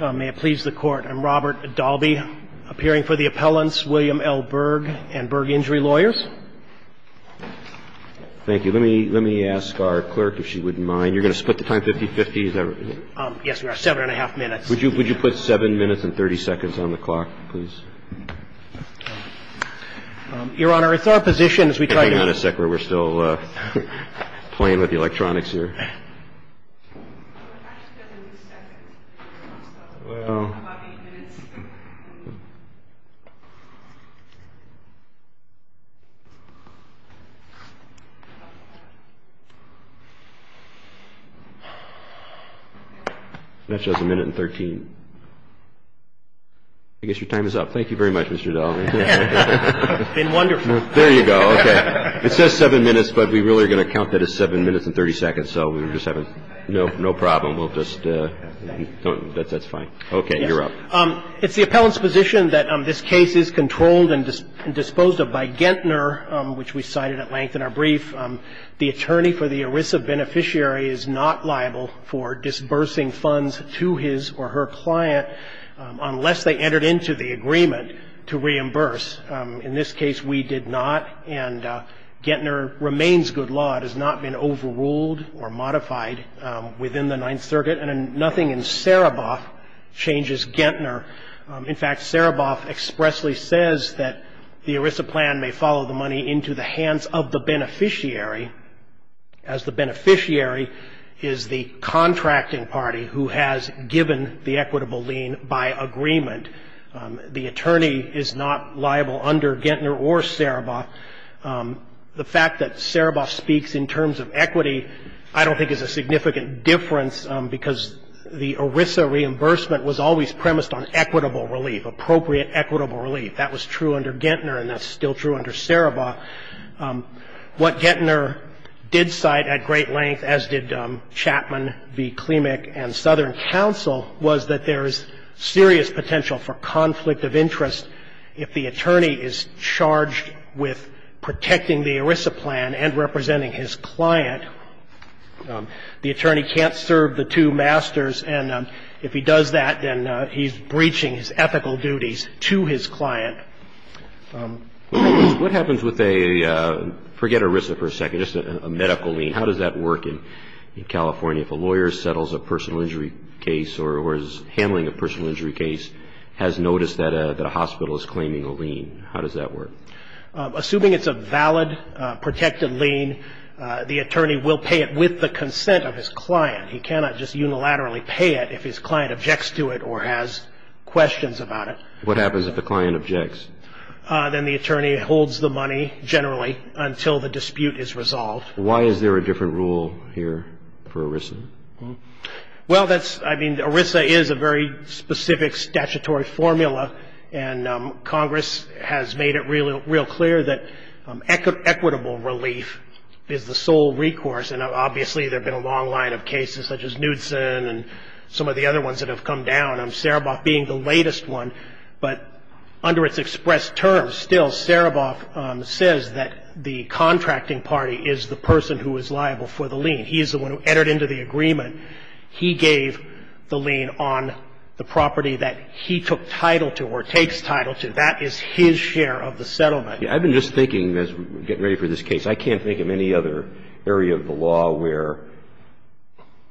May it please the Court, I'm Robert Dalby, appearing for the appellants William L. Berg and Berg Injury Lawyers. Thank you. Let me ask our clerk if she wouldn't mind. You're going to split the time 50-50? Yes, we are. Seven and a half minutes. Would you put seven minutes and 30 seconds on the clock, please? Your Honor, it's our position as we try to... Hang on a second, we're still playing with the electronics here. That shows a minute and 13. I guess your time is up. Thank you very much, Mr. Dalby. It's been wonderful. There you go. Okay. It says seven minutes, but we really are going to count that as seven minutes and 30 seconds. So we're just having no problem. We'll just... That's fine. Okay. You're up. It's the appellant's position that this case is controlled and disposed of by Gentner, which we cited at length in our brief. The attorney for the ERISA beneficiary is not liable for disbursing funds to his or her client unless they entered into the agreement to reimburse. In this case, we did not, and Gentner remains good law. It has not been overruled or modified within the Ninth Circuit, and nothing in Sereboff changes Gentner. In fact, Sereboff expressly says that the ERISA plan may follow the money into the hands of the beneficiary, as the beneficiary is the contracting party who has given the equitable lien by agreement. The attorney is not liable under Gentner or Sereboff. The fact that Sereboff speaks in terms of equity I don't think is a significant difference because the ERISA reimbursement was always premised on equitable relief, appropriate equitable relief. That was true under Gentner, and that's still true under Sereboff. It's not liable under Sereboff. What Gentner did cite at great length, as did Chapman v. Klimek and Southern Counsel, was that there is serious potential for conflict of interest if the attorney is charged with protecting the ERISA plan and representing his client. The attorney can't serve the two masters, and if he does that, then he's breaching his ethical duties to his client. What happens with a, forget ERISA for a second, just a medical lien? How does that work in California if a lawyer settles a personal injury case or is handling a personal injury case, has noticed that a hospital is claiming a lien? How does that work? Assuming it's a valid protected lien, the attorney will pay it with the consent of his client. He cannot just unilaterally pay it if his client objects to it or has questions about it. What happens if the client objects? Then the attorney holds the money generally until the dispute is resolved. Well, that's, I mean, ERISA is a very specific statutory formula, and Congress has made it real clear that equitable relief is the sole recourse. And obviously there have been a long line of cases such as Knudson and some of the other ones that have come down, Sereboff being the latest one. But under its express terms, still, Sereboff says that the contracting party is the person who is liable for the lien. He is the one who entered into the agreement. He gave the lien on the property that he took title to or takes title to. That is his share of the settlement. I've been just thinking as we're getting ready for this case, I can't think of any other area of the law where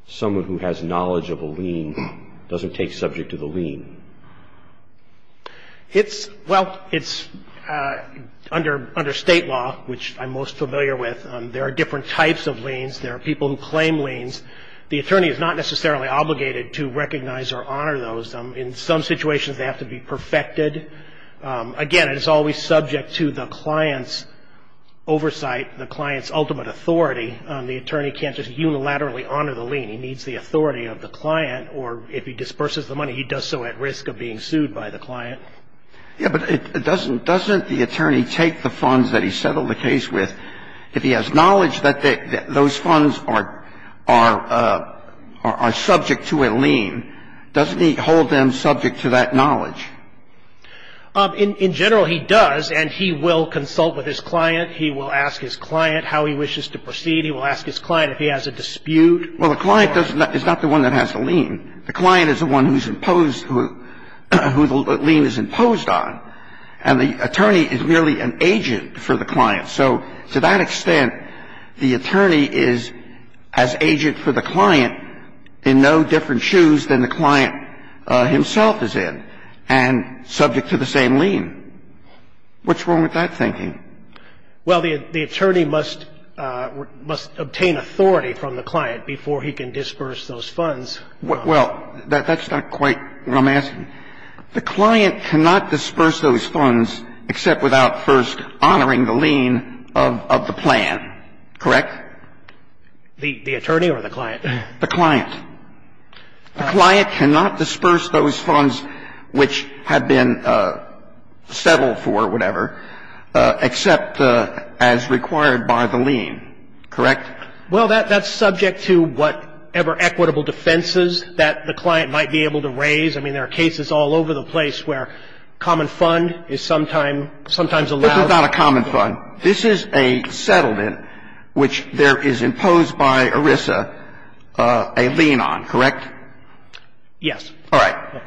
someone who has knowledge of a lien doesn't take subject to the lien. It's, well, it's under state law, which I'm most familiar with. There are different types of liens. There are people who claim liens. The attorney is not necessarily obligated to recognize or honor those. In some situations, they have to be perfected. Again, it is always subject to the client's oversight, the client's ultimate authority. The attorney can't just unilaterally honor the lien. He needs the authority of the client, or if he disperses the money, he does so at risk of being sued by the client. Yeah, but it doesn't – doesn't the attorney take the funds that he settled the case with, if he has knowledge that those funds are subject to a lien, doesn't he hold them subject to that knowledge? In general, he does, and he will consult with his client. He will ask his client how he wishes to proceed. He will ask his client if he has a dispute. Well, the client is not the one that has the lien. The client is the one who's imposed – who the lien is imposed on. And the attorney is merely an agent for the client. So to that extent, the attorney is as agent for the client in no different shoes than the client himself is in and subject to the same lien. What's wrong with that thinking? Well, the attorney must – must obtain authority from the client before he can disperse those funds. Well, that's not quite what I'm asking. The client cannot disperse those funds except without first honoring the lien of the plan, correct? The attorney or the client? The client. The client cannot disperse those funds which have been settled for whatever except as required by the lien, correct? Well, that's subject to whatever equitable defenses that the client might be able to raise. I mean, there are cases all over the place where common fund is sometimes – sometimes allowed. This is not a common fund. This is a settlement which there is imposed by ERISA a lien on, correct? Yes. All right.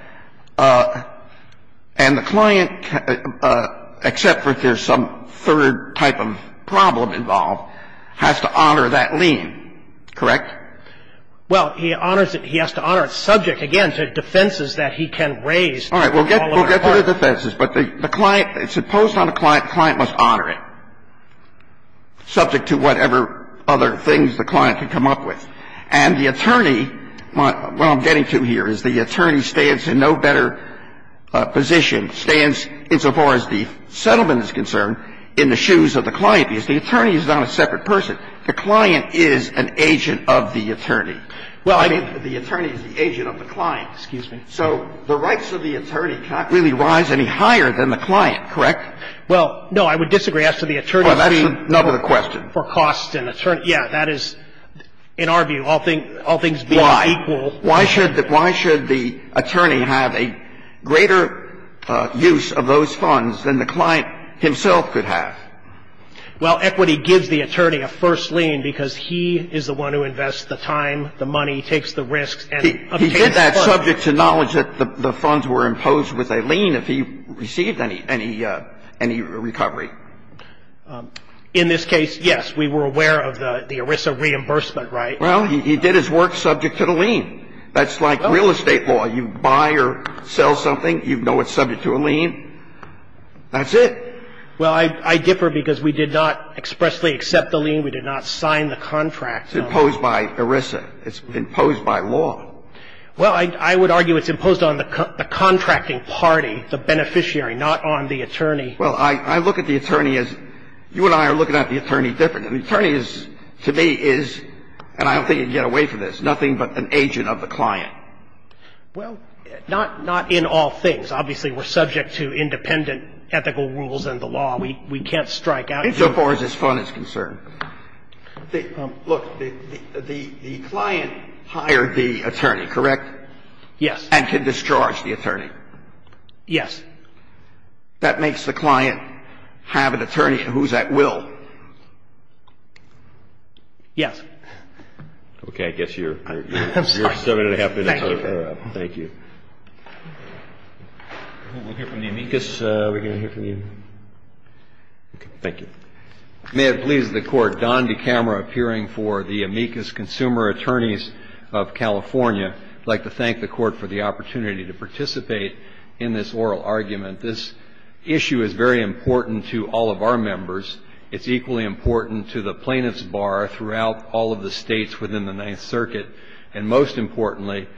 And the client, except for if there's some third type of problem involved, has to honor that lien, correct? Well, he honors it – he has to honor it subject, again, to defenses that he can raise. All right. We'll get to the defenses. But the client – it's imposed on the client. The client must honor it subject to whatever other things the client can come up with. And the attorney – what I'm getting to here is the attorney stands in no better position, stands, insofar as the settlement is concerned, in the shoes of the client, because the attorney is not a separate person. The client is an agent of the attorney. Well, I mean, the attorney is the agent of the client. Excuse me. So the rights of the attorney cannot really rise any higher than the client, correct? Well, no. I would disagree. As to the attorney's fee – Well, that's another question. For costs and attorney – yeah, that is, in our view, all things being equal. Why? Why should the attorney have a greater use of those funds than the client himself could have? Well, equity gives the attorney a first lien because he is the one who invests the time, the money, takes the risks, and obtains the funds. He did that subject to knowledge that the funds were imposed with a lien if he received any recovery. In this case, yes, we were aware of the ERISA reimbursement, right? Well, he did his work subject to the lien. That's like real estate law. You buy or sell something, you know it's subject to a lien. That's it. Well, I differ because we did not expressly accept the lien. We did not sign the contract. It's imposed by ERISA. It's imposed by law. Well, I would argue it's imposed on the contracting party, the beneficiary, not on the attorney. Well, I look at the attorney as – you and I are looking at the attorney differently. The attorney is, to me, is – and I don't think you can get away from this – nothing but an agent of the client. Well, not in all things. Obviously, we're subject to independent ethical rules and the law. We can't strike out. Insofar as his fund is concerned. Look, the client hired the attorney, correct? Yes. And can discharge the attorney. Yes. That makes the client have an attorney who's at will. Okay. I guess you're seven and a half minutes over. Thank you. We'll hear from the amicus. Are we going to hear from you? Okay. Thank you. May it please the Court. Don DeCamera, appearing for the Amicus Consumer Attorneys of California. I'd like to thank the Court for the opportunity to participate in this oral argument. This issue is very important to all of our members. It's equally important to the plaintiff's bar throughout all of the States within the Ninth Circuit. And most importantly,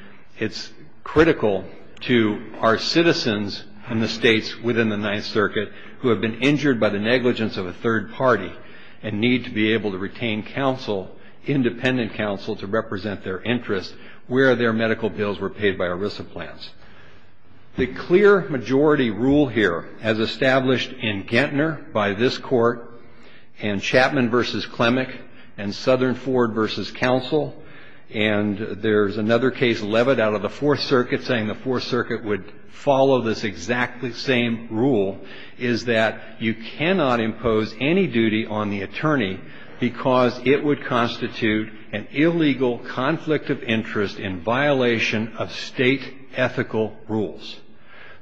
it's critical to our citizens in the States within the Ninth Circuit who have been injured by the negligence of a third party and need to be able to retain counsel, independent counsel, to represent their interests where their medical bills were paid by ERISA plans. The clear majority rule here, as established in Gettner by this Court and Chapman v. Klemek and Southern Ford v. Counsel, and there's another case, Levitt, out of the Fourth Circuit saying the Fourth Circuit would follow this exactly same rule, is that you cannot impose any duty on the attorney because it would constitute an illegal conflict of interest in violation of State ethical rules.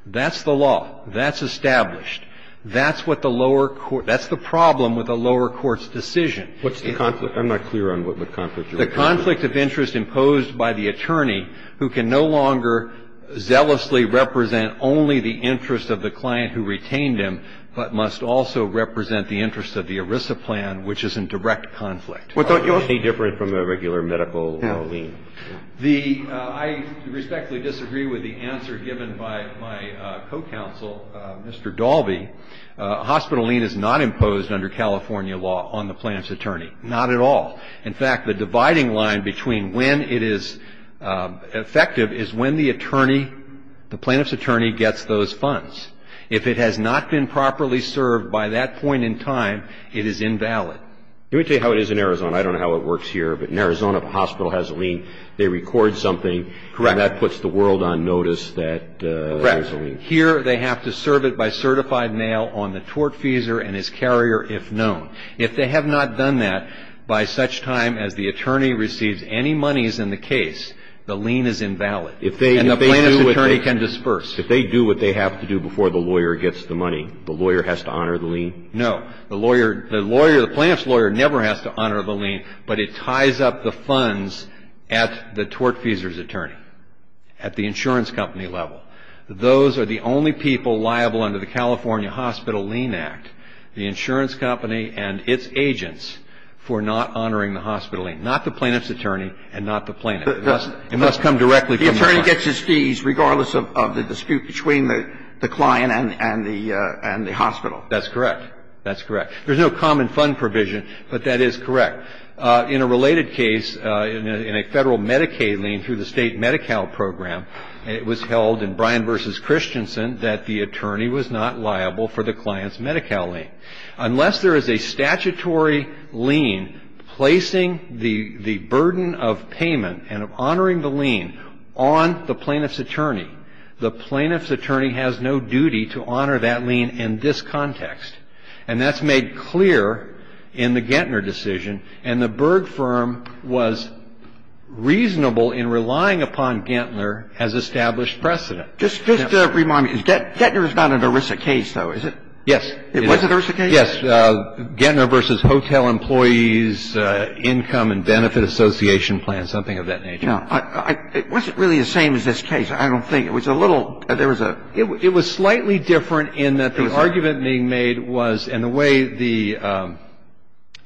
That's the law. That's established. That's what the lower court – that's the problem with a lower court's decision. What's the conflict? I'm not clear on what conflict you're referring to. The conflict of interest imposed by the attorney who can no longer zealously represent only the interest of the client who retained him, but must also represent the interest of the ERISA plan, which is in direct conflict. Well, don't you also – Any different from a regular medical lien? I respectfully disagree with the answer given by my co-counsel, Mr. Dalby. Hospital lien is not imposed under California law on the plaintiff's attorney. Not at all. In fact, the dividing line between when it is effective is when the attorney, the plaintiff's attorney, gets those funds. If it has not been properly served by that point in time, it is invalid. Let me tell you how it is in Arizona. I don't know how it works here, but in Arizona, if a hospital has a lien, they record something. Correct. And that puts the world on notice that there's a lien. Correct. Here, they have to serve it by certified mail on the tortfeasor and his carrier, if known. If they have not done that, by such time as the attorney receives any monies in the case, the lien is invalid. And the plaintiff's attorney can disperse. If they do what they have to do before the lawyer gets the money, the lawyer has to honor the lien? No. The lawyer, the plaintiff's lawyer never has to honor the lien, but it ties up the funds at the tortfeasor's attorney, at the insurance company level. Those are the only people liable under the California Hospital Lien Act, the insurance company and its agents, for not honoring the hospital lien. Not the plaintiff's attorney and not the plaintiff. It must come directly from the client. The attorney gets his fees regardless of the dispute between the client and the hospital. That's correct. That's correct. There's no common fund provision, but that is correct. In a related case, in a Federal Medicaid lien through the state Medi-Cal program, it was held in Bryan v. Christensen that the attorney was not liable for the client's Medi-Cal lien. Unless there is a statutory lien placing the burden of payment and honoring the lien on the plaintiff's attorney, the plaintiff's attorney has no duty to honor that lien in this context. And that's made clear in the Gettner decision. And the Berg firm was reasonable in relying upon Gettner as established precedent. Just to remind me, Gettner is not an ERISA case, though, is it? Yes. It wasn't an ERISA case? Yes. Gettner v. Hotel Employees Income and Benefit Association Plan, something of that nature. No. It wasn't really the same as this case. I don't think. It was a little – there was a – It was slightly different in that the argument being made was – and the way the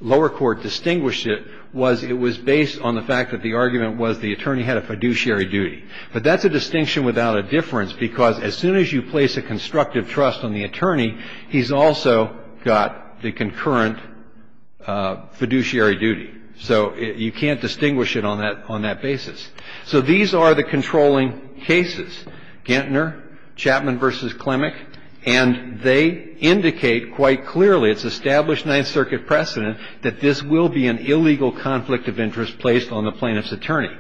lower court distinguished it was it was based on the fact that the argument was the attorney had a fiduciary duty. But that's a distinction without a difference because as soon as you place a constructive trust on the attorney, he's also got the concurrent fiduciary duty. So you can't distinguish it on that basis. So these are the controlling cases, Gettner, Chapman v. Klemek, and they indicate quite clearly, it's established Ninth Circuit precedent, that this will be an illegal conflict of interest placed on the plaintiff's attorney,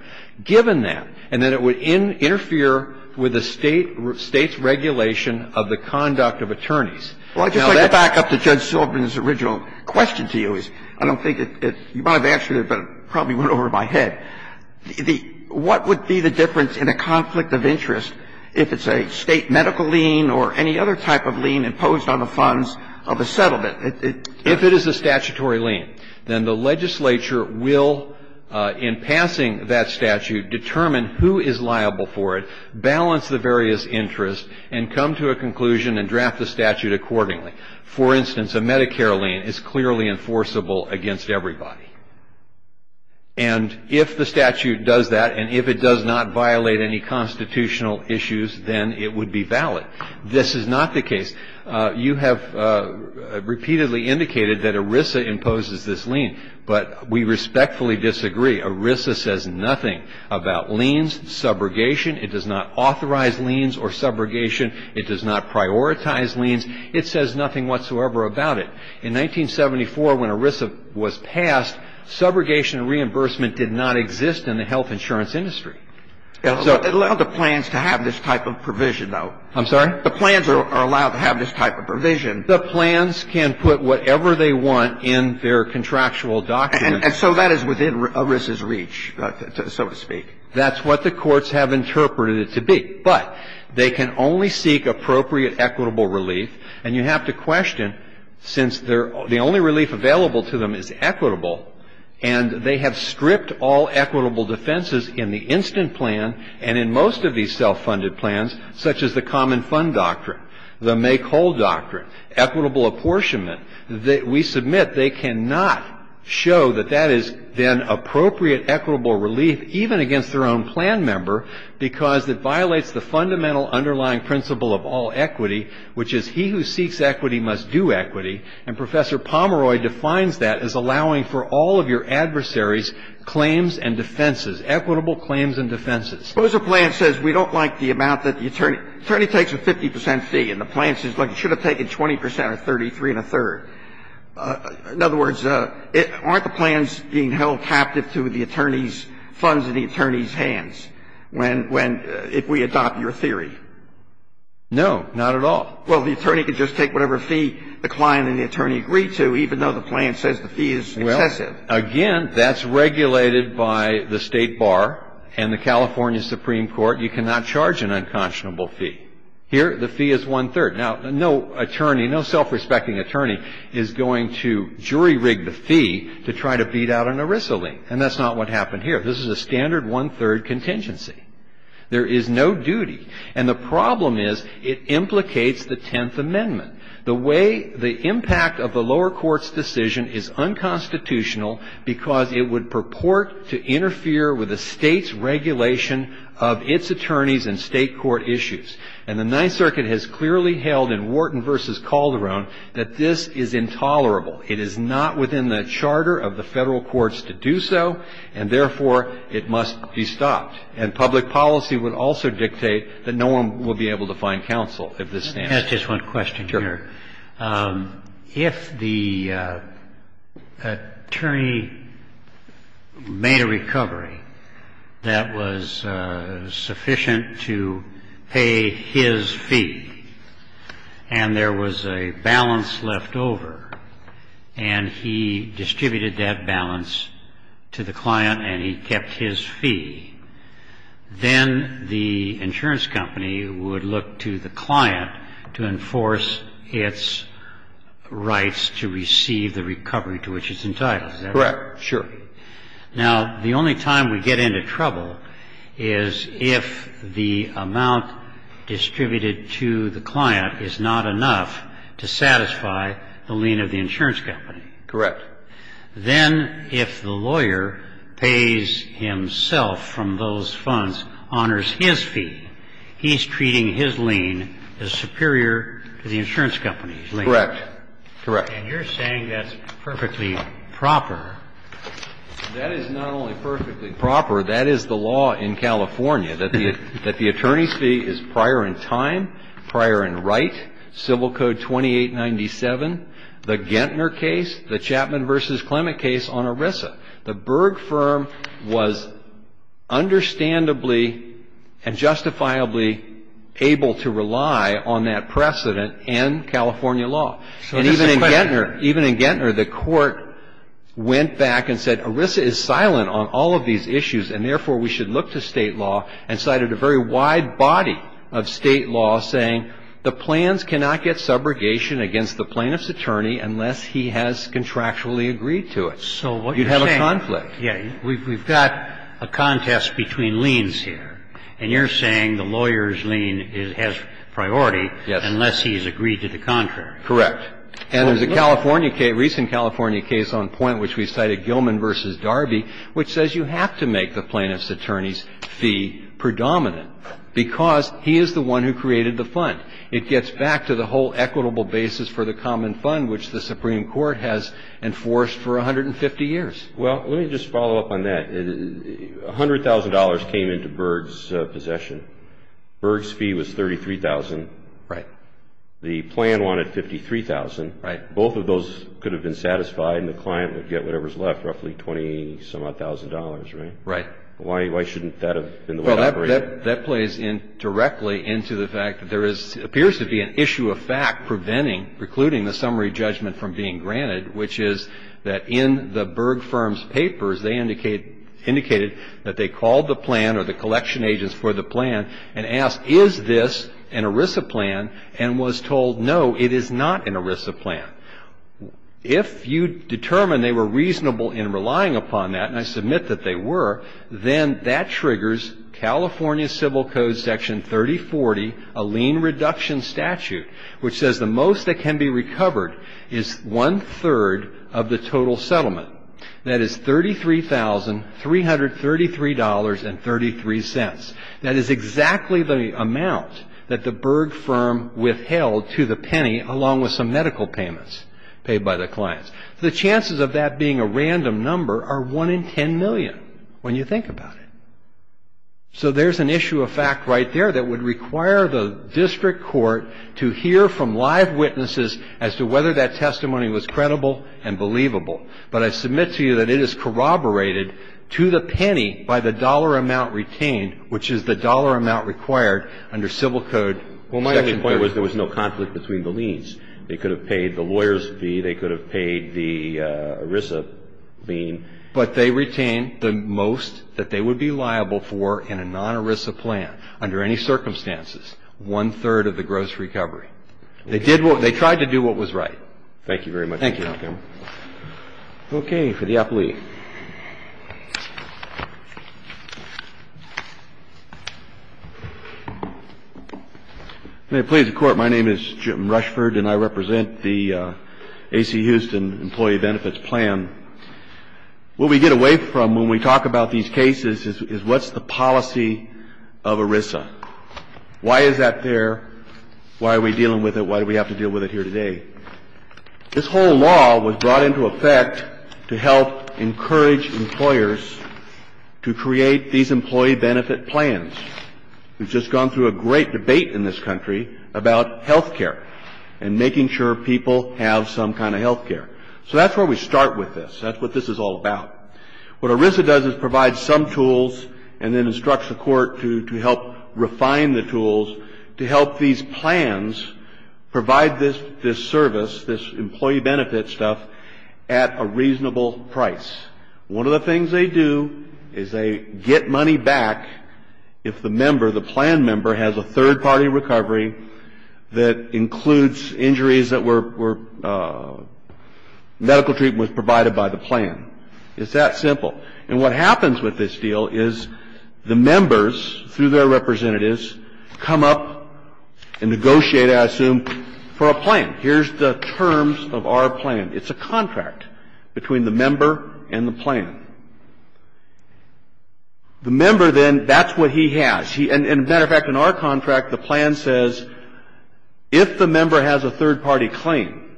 given that, and that it would interfere with the State's regulation of the conduct of attorneys. Well, I'd just like to back up to Judge Silverman's original question to you. I don't think it – you might have answered it, but it probably went over my head. The – what would be the difference in a conflict of interest if it's a State medical lien or any other type of lien imposed on the funds of a settlement? If it is a statutory lien, then the legislature will, in passing that statute, determine who is liable for it, balance the various interests, and come to a conclusion and draft the statute accordingly. For instance, a Medicare lien is clearly enforceable against everybody. And if the statute does that, and if it does not violate any constitutional issues, then it would be valid. This is not the case. You have repeatedly indicated that ERISA imposes this lien. But we respectfully disagree. ERISA says nothing about liens, subrogation. It does not authorize liens or subrogation. It does not prioritize liens. It says nothing whatsoever about it. In 1974, when ERISA was passed, subrogation and reimbursement did not exist in the health insurance industry. It allowed the plans to have this type of provision, though. I'm sorry? The plans are allowed to have this type of provision. The plans can put whatever they want in their contractual document. And so that is within ERISA's reach, so to speak. That's what the courts have interpreted it to be. But they can only seek appropriate equitable relief. And you have to question, since the only relief available to them is equitable, and they have stripped all equitable defenses in the instant plan and in most of these self-funded plans, such as the common fund doctrine, the make-whole doctrine, equitable apportionment. We submit they cannot show that that is then appropriate equitable relief, even against their own plan member, because it violates the fundamental underlying principle of all equity, which is he who seeks equity must do equity. And Professor Pomeroy defines that as allowing for all of your adversary's claims and defenses, equitable claims and defenses. Suppose a plan says we don't like the amount that the attorney – the attorney takes a 50 percent fee, and the plan says, look, you should have taken 20 percent or 33 and a third. In other words, aren't the plans being held captive to the attorney's funds in the attorney's hands when – when – if we adopt your theory? No, not at all. Well, the attorney can just take whatever fee the client and the attorney agree to, even though the plan says the fee is excessive. Well, again, that's regulated by the State Bar and the California Supreme Court. You cannot charge an unconscionable fee. Here, the fee is one-third. Now, no attorney, no self-respecting attorney is going to jury-rig the fee to try to beat out an Arisalene, and that's not what happened here. This is a standard one-third contingency. There is no duty. And the problem is it implicates the Tenth Amendment. The way – the impact of the lower court's decision is unconstitutional because it would purport to interfere with the State's regulation of its attorneys and State court issues. And the Ninth Circuit has clearly held in Wharton v. Calderon that this is intolerable. It is not within the charter of the Federal courts to do so, and therefore it must be stopped. And public policy would also dictate that no one would be able to find counsel if this stands. Let me ask just one question here. Sure. If the attorney made a recovery that was sufficient to pay his fee and there was a balance left over and he distributed that balance to the client and he kept his fee, then the insurance company would look to the client to enforce its rights to receive the recovery to which it's entitled, is that right? Correct. Sure. Now, the only time we get into trouble is if the amount distributed to the client is not enough to satisfy the lien of the insurance company. Correct. Then if the lawyer pays himself from those funds, honors his fee, he's treating his lien as superior to the insurance company's lien. Correct. Correct. And you're saying that's perfectly proper. That is not only perfectly proper, that is the law in California, that the attorney's fee is prior in time, prior in right, Civil Code 2897, the Gentner case, the Chapman v. Clement case on ERISA. The Berg firm was understandably and justifiably able to rely on that precedent in California law. And even in Gentner, the court went back and said ERISA is silent on all of these issues and therefore we should look to state law and cited a very wide body of state law saying the plans cannot get subrogation against the plaintiff's attorney unless he has contractually agreed to it. So what you're saying. You'd have a conflict. Yeah. We've got a contest between liens here. And you're saying the lawyer's lien has priority unless he has agreed to the contract. Correct. And there's a California case, recent California case on point which we cited, Gilman v. Darby, which says you have to make the plaintiff's attorney's fee predominant because he is the one who created the fund. It gets back to the whole equitable basis for the common fund which the Supreme Court has enforced for 150 years. Well, let me just follow up on that. $100,000 came into Berg's possession. Berg's fee was $33,000. Right. The plan wanted $53,000. Right. Both of those could have been satisfied and the client would get whatever's left, roughly $20,000, right? Right. Why shouldn't that have been the way it operated? Well, that plays directly into the fact that there appears to be an issue of fact preventing, precluding the summary judgment from being granted, which is that in the Berg firm's papers, they indicated that they called the plan or the collection agents for the plan and asked, is this an ERISA plan, and was told, no, it is not an ERISA plan. If you determine they were reasonable in relying upon that, and I submit that they were, then that triggers California Civil Code Section 3040, a lien reduction statute, which says the most that can be recovered is one-third of the total settlement. That is $33,333.33. That is exactly the amount that the Berg firm withheld to the penny along with some medical payments paid by the clients. So the chances of that being a random number are 1 in 10 million when you think about it. So there's an issue of fact right there that would require the district court to hear from live witnesses as to whether that testimony was credible and believable. But I submit to you that it is corroborated to the penny by the dollar amount retained, which is the dollar amount required under Civil Code Section 3040. There was no conflict between the liens. They could have paid the lawyer's fee. They could have paid the ERISA lien. But they retained the most that they would be liable for in a non-ERISA plan under any circumstances, one-third of the gross recovery. They did what they tried to do what was right. Thank you very much. Thank you, Your Honor. Okay. For the appellee. May it please the Court, my name is Jim Rushford and I represent the A.C. Houston Employee Benefits Plan. What we get away from when we talk about these cases is what's the policy of ERISA? Why is that there? Why are we dealing with it? Why do we have to deal with it here today? to create these employee benefit plans. We've just gone through a great debate in this country about health care and making sure people have some kind of health care. So that's where we start with this. That's what this is all about. What ERISA does is provide some tools and then instructs the Court to help refine the tools to help these plans provide this service, this employee benefit stuff, at a reasonable price. One of the things they do is they get money back if the member, the plan member, has a third-party recovery that includes injuries that were medical treatment was provided by the plan. It's that simple. And what happens with this deal is the members, through their representatives, come up and negotiate, I assume, for a plan. Here's the terms of our plan. It's a contract between the member and the plan. The member then, that's what he has. And, as a matter of fact, in our contract, the plan says if the member has a third-party claim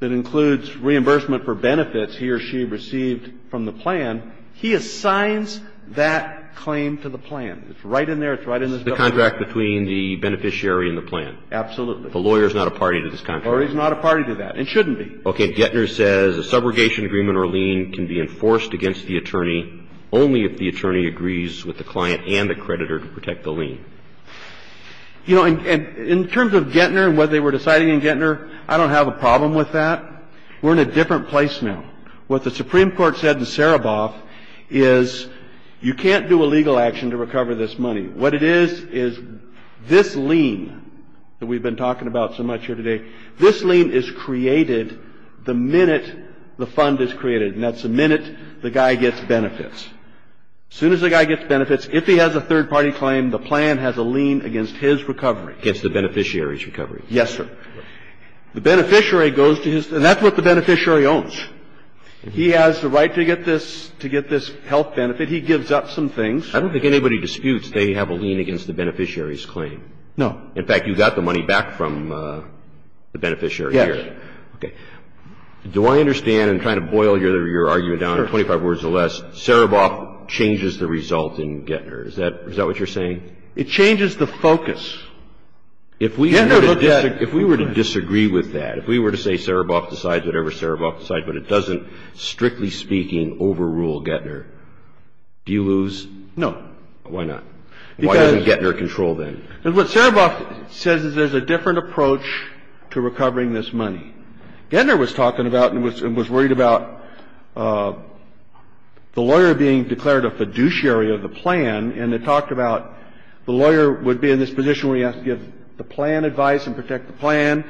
that includes reimbursement for benefits he or she received from the plan, he assigns that claim to the plan. It's right in there. It's right in this bill. It's the contract between the beneficiary and the plan. Absolutely. The lawyer is not a party to this contract. The lawyer is not a party to that and shouldn't be. Okay. Gettner says a subrogation agreement or lien can be enforced against the attorney only if the attorney agrees with the client and the creditor to protect the lien. You know, in terms of Gettner and what they were deciding in Gettner, I don't have a problem with that. We're in a different place now. What the Supreme Court said in Sereboff is you can't do a legal action to recover this money. What it is, is this lien that we've been talking about so much here today, this lien is created the minute the fund is created, and that's the minute the guy gets benefits. As soon as the guy gets benefits, if he has a third-party claim, the plan has a lien against his recovery. Against the beneficiary's recovery. Yes, sir. The beneficiary goes to his, and that's what the beneficiary owns. He has the right to get this, to get this health benefit. He gives up some things. I don't think anybody disputes they have a lien against the beneficiary's claim. No. In fact, you got the money back from the beneficiary here. Yes. Okay. Do I understand, and kind of boil your argument down in 25 words or less, Sereboff changes the result in Gettner? Is that what you're saying? It changes the focus. If we were to disagree with that, if we were to say Sereboff decides whatever Sereboff decides, but it doesn't, strictly speaking, overrule Gettner, do you lose? No. Why not? Why doesn't Gettner control then? Because what Sereboff says is there's a different approach to recovering this money. Gettner was talking about and was worried about the lawyer being declared a fiduciary of the plan, and it talked about the lawyer would be in this position where he has to give the plan advice and protect the plan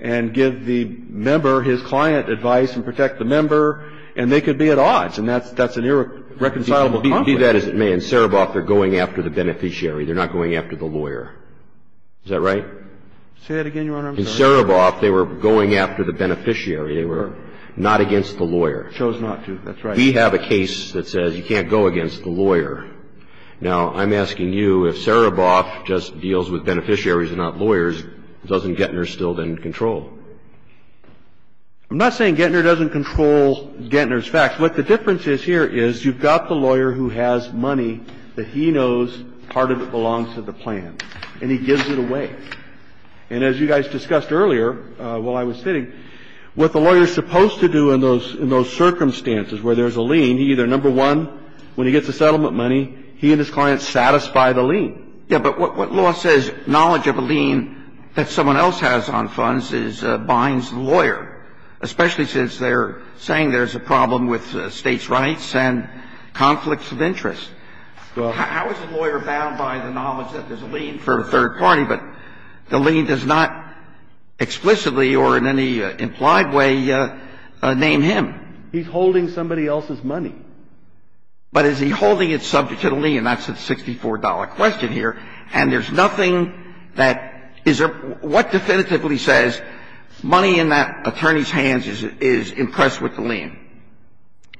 and give the member, his client, advice and protect the member, and they could be at odds. And that's an irreconcilable conflict. Do that as it may. In Sereboff, they're going after the beneficiary. They're not going after the lawyer. Is that right? Say that again, Your Honor. In Sereboff, they were going after the beneficiary. They were not against the lawyer. Chose not to. That's right. We have a case that says you can't go against the lawyer. Now, I'm asking you, if Sereboff just deals with beneficiaries and not lawyers, doesn't Gettner still then control? I'm not saying Gettner doesn't control Gettner's facts. What the difference is here is you've got the lawyer who has money that he knows part of it belongs to the plan, and he gives it away. And as you guys discussed earlier while I was sitting, what the lawyer is supposed to do in those circumstances where there's a lien, he either, number one, when he gets the settlement money, he and his client satisfy the lien. Yeah, but what law says knowledge of a lien that someone else has on funds binds the lawyer, especially since they're saying there's a problem with States' rights and conflicts of interest. How is the lawyer bound by the knowledge that there's a lien for a third party, but the lien does not explicitly or in any implied way name him? He's holding somebody else's money. But is he holding it subject to the lien? That's a $64 question here. And there's nothing that is there – what definitively says money in that attorney's hands is impressed with the lien?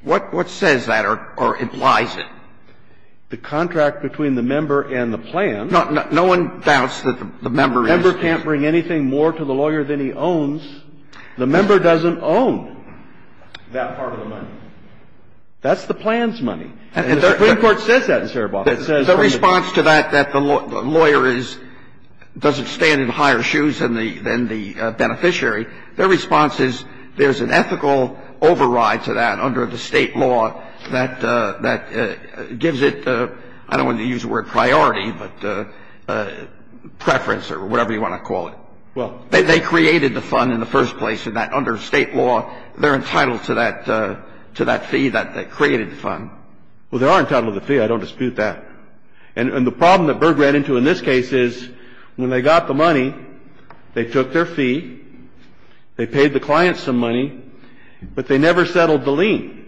What says that or implies it? The contract between the member and the plan. No one doubts that the member is. The member can't bring anything more to the lawyer than he owns. The member doesn't own that part of the money. That's the plan's money. And the Supreme Court says that in Saraboff. The response to that, that the lawyer is – doesn't stand in higher shoes than the beneficiary, their response is there's an ethical override to that under the State law that gives it the – I don't want to use the word priority, but preference or whatever you want to call it. They created the fund in the first place in that under State law, they're entitled to that fee that created the fund. Well, they are entitled to the fee. I don't dispute that. And the problem that Berg ran into in this case is when they got the money, they took their fee, they paid the client some money, but they never settled the lien.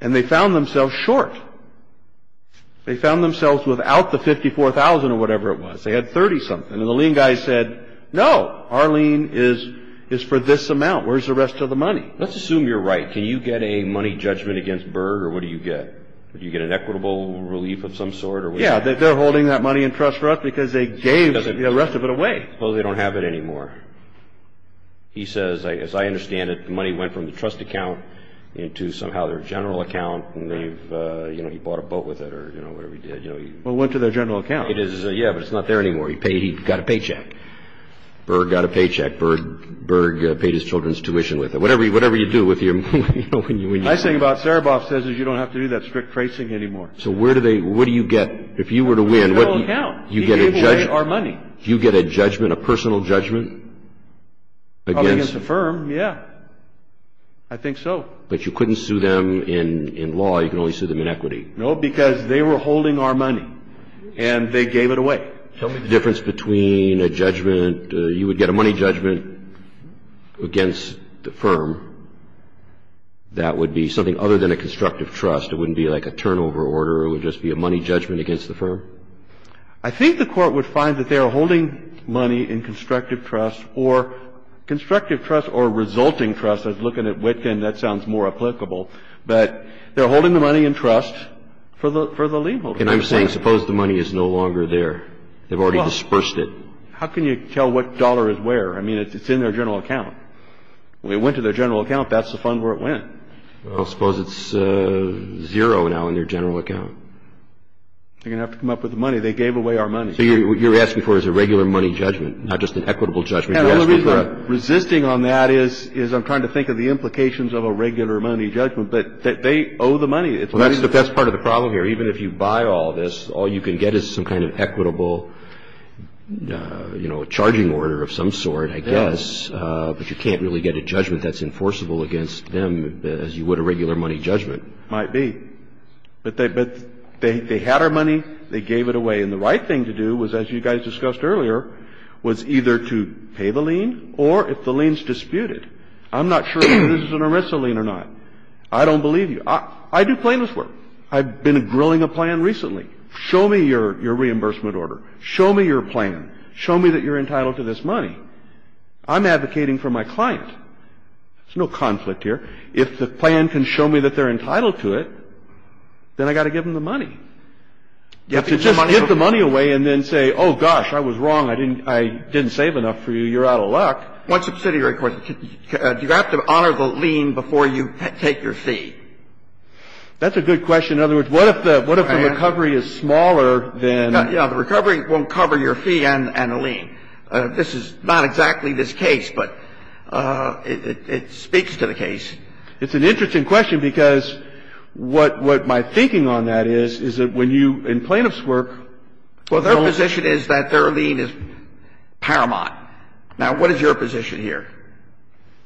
And they found themselves short. They found themselves without the 54,000 or whatever it was. They had 30-something. And the lien guy said, no, our lien is for this amount. Where's the rest of the money? Let's assume you're right. Can you get a money judgment against Berg or what do you get? Do you get an equitable relief of some sort? Yeah. They're holding that money in trust for us because they gave the rest of it away. Well, they don't have it anymore. He says, as I understand it, the money went from the trust account into somehow their general account and they've, you know, he bought a boat with it or, you know, whatever he did. Well, it went to their general account. Yeah, but it's not there anymore. He paid, he got a paycheck. Berg got a paycheck. Berg paid his children's tuition with it. Whatever you do with your money. The nice thing about Sereboff says is you don't have to do that strict tracing anymore. So where do they, what do you get if you were to win? You get a judgment. He gave away our money. You get a judgment, a personal judgment? Probably against the firm, yeah. I think so. But you couldn't sue them in law, you can only sue them in equity. No, because they were holding our money and they gave it away. Tell me the difference between a judgment, you would get a money judgment against the firm. That would be something other than a constructive trust. It wouldn't be like a turnover order. It would just be a money judgment against the firm. I think the Court would find that they are holding money in constructive trust or constructive trust or resulting trust. I was looking at Wittgen, that sounds more applicable. But they're holding the money in trust for the lien holder. And I'm saying suppose the money is no longer there. They've already dispersed it. Well, how can you tell what dollar is where? I mean, it's in their general account. When it went to their general account, that's the fund where it went. Well, suppose it's zero now in their general account. They're going to have to come up with the money. They gave away our money. So what you're asking for is a regular money judgment, not just an equitable judgment. Resisting on that is I'm trying to think of the implications of a regular money judgment. But they owe the money. Well, that's part of the problem here. Even if you buy all this, all you can get is some kind of equitable, you know, charging order of some sort, I guess. But you can't really get a judgment that's enforceable against them as you would a regular money judgment. Might be. But they had our money. They gave it away. And the right thing to do was, as you guys discussed earlier, was either to pay the lien or if the lien is disputed. I'm not sure if this is an ERISA lien or not. I don't believe you. I do plaintiff's work. I've been grilling a plan recently. Show me your reimbursement order. Show me your plan. Show me that you're entitled to this money. I'm advocating for my client. There's no conflict here. If the plan can show me that they're entitled to it, then I've got to give them the money. You have to just give the money away and then say, oh, gosh, I was wrong. I didn't save enough for you. You're out of luck. What subsidiary court? Do you have to honor the lien before you take your fee? That's a good question. In other words, what if the recovery is smaller than the... The recovery won't cover your fee and the lien. This is not exactly this case, but it speaks to the case. It's an interesting question because what my thinking on that is, is that when you, in plaintiff's work... Well, their position is that their lien is paramount. Now, what is your position here?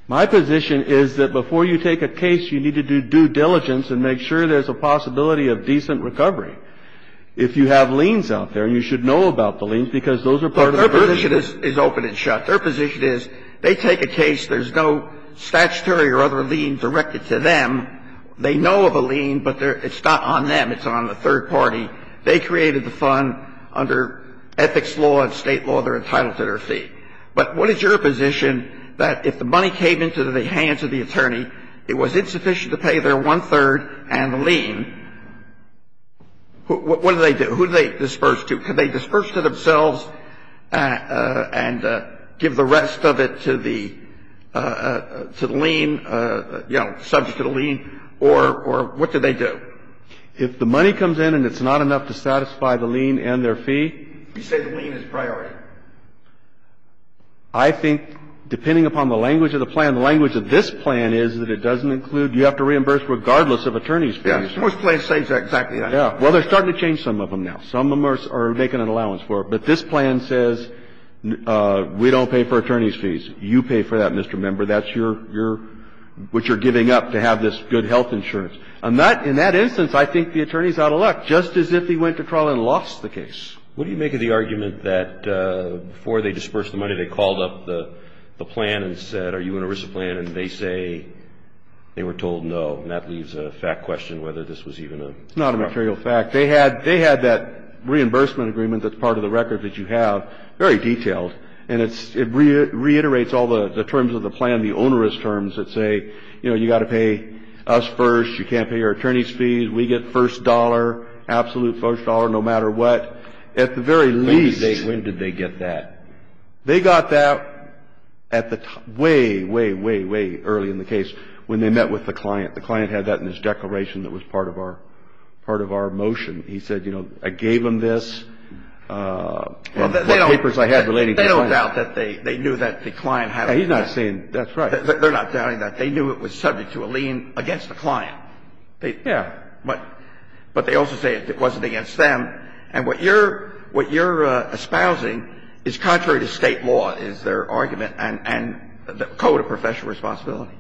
My position is that before you take a case, you need to do due diligence and make sure there's a possibility of decent recovery. If you have liens out there, you should know about the liens because those are part of the... But their position is open and shut. Their position is they take a case, there's no statutory or other lien directed to them. They know of a lien, but it's not on them. It's on the third party. They created the fund under ethics law and state law. They're entitled to their fee. But what is your position that if the money came into the hands of the attorney, it was insufficient to pay their one-third and the lien? What do they do? Who do they disperse to? Can they disperse to themselves and give the rest of it to the lien, you know, subject to the lien? Or what do they do? If the money comes in and it's not enough to satisfy the lien and their fee... You say the lien is priority. I think, depending upon the language of the plan, the language of this plan is that it doesn't include, you have to reimburse regardless of attorney's fee. Most plans say exactly that. Well, they're starting to change some of them now. Some of them are making an allowance for it. But this plan says we don't pay for attorney's fees. You pay for that, Mr. Member. That's what you're giving up to have this good health insurance. In that instance, I think the attorney's out of luck, just as if he went to trial and lost the case. What do you make of the argument that before they dispersed the money, they called up the plan and said, are you going to risk the plan? And they say they were told no. And that leaves a fact question whether this was even a... It's not a material fact. They had that reimbursement agreement that's part of the record that you have, very detailed. And it reiterates all the terms of the plan, the onerous terms that say, you know, you've got to pay us first. You can't pay your attorney's fees. We get first dollar, absolute first dollar no matter what. At the very least... When did they get that? They got that at the way, way, way, way early in the case when they met with the client. The client had that in his declaration that was part of our motion. He said, you know, I gave them this and the papers I had relating to the client. They don't doubt that they knew that the client had it. He's not saying that's right. They're not doubting that. They knew it was subject to a lien against the client. Yeah. But they also say it wasn't against them. And what you're espousing is contrary to State law, is their argument, and the Code of Professional Responsibility.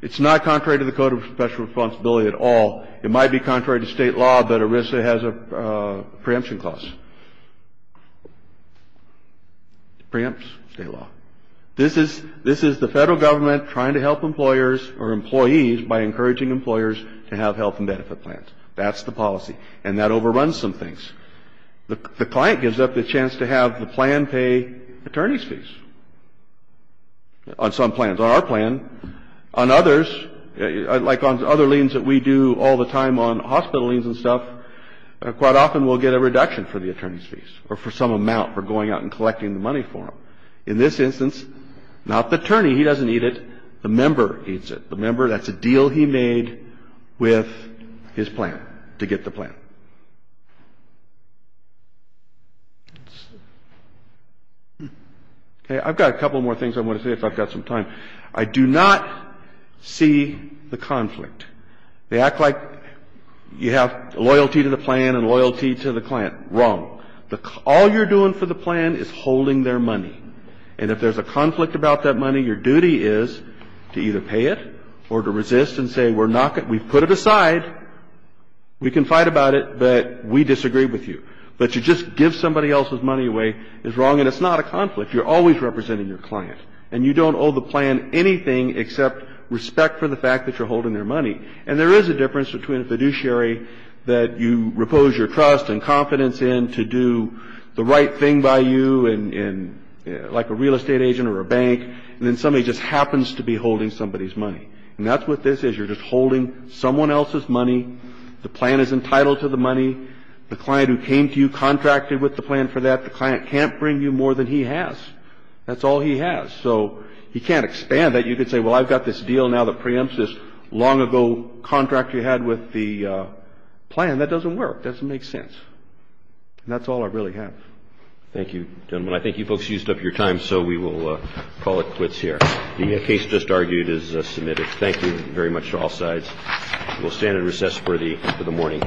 It's not contrary to the Code of Professional Responsibility at all. It might be contrary to State law, but ERISA has a preemption clause. It preempts State law. This is the Federal Government trying to help employers or employees by encouraging employers to have health and benefit plans. That's the policy. And that overruns some things. The client gives up the chance to have the plan pay attorney's fees on some plans. On our plan, on others, like on other liens that we do all the time on hospital liens and stuff, quite often we'll get a reduction for the attorney's fees or for some amount for going out and collecting the money for them. In this instance, not the attorney. He doesn't need it. The member needs it. The member, that's a deal he made with his plan to get the plan. Okay. I've got a couple more things I want to say if I've got some time. I do not see the conflict. They act like you have loyalty to the plan and loyalty to the client. Wrong. All you're doing for the plan is holding their money. And if there's a conflict about that money, your duty is to either pay it or to resist and say we're not going to do it. We've put it aside. We can fight about it, but we disagree with you. But to just give somebody else's money away is wrong, and it's not a conflict. You're always representing your client. And you don't owe the plan anything except respect for the fact that you're holding their money. And there is a difference between a fiduciary that you repose your trust and confidence in to do the right thing by you like a real estate agent or a bank, and then somebody just happens to be holding somebody's money. And that's what this is. You're just holding someone else's money. The plan is entitled to the money. The client who came to you contracted with the plan for that. The client can't bring you more than he has. That's all he has. So he can't expand that. You could say, well, I've got this deal now that preempts this long-ago contract you had with the plan. That doesn't work. That doesn't make sense. And that's all I really have. Thank you, gentlemen. I think you folks used up your time, so we will call it quits here. The case just argued is submitted. Thank you very much to all sides. We'll stand and recess for the morning.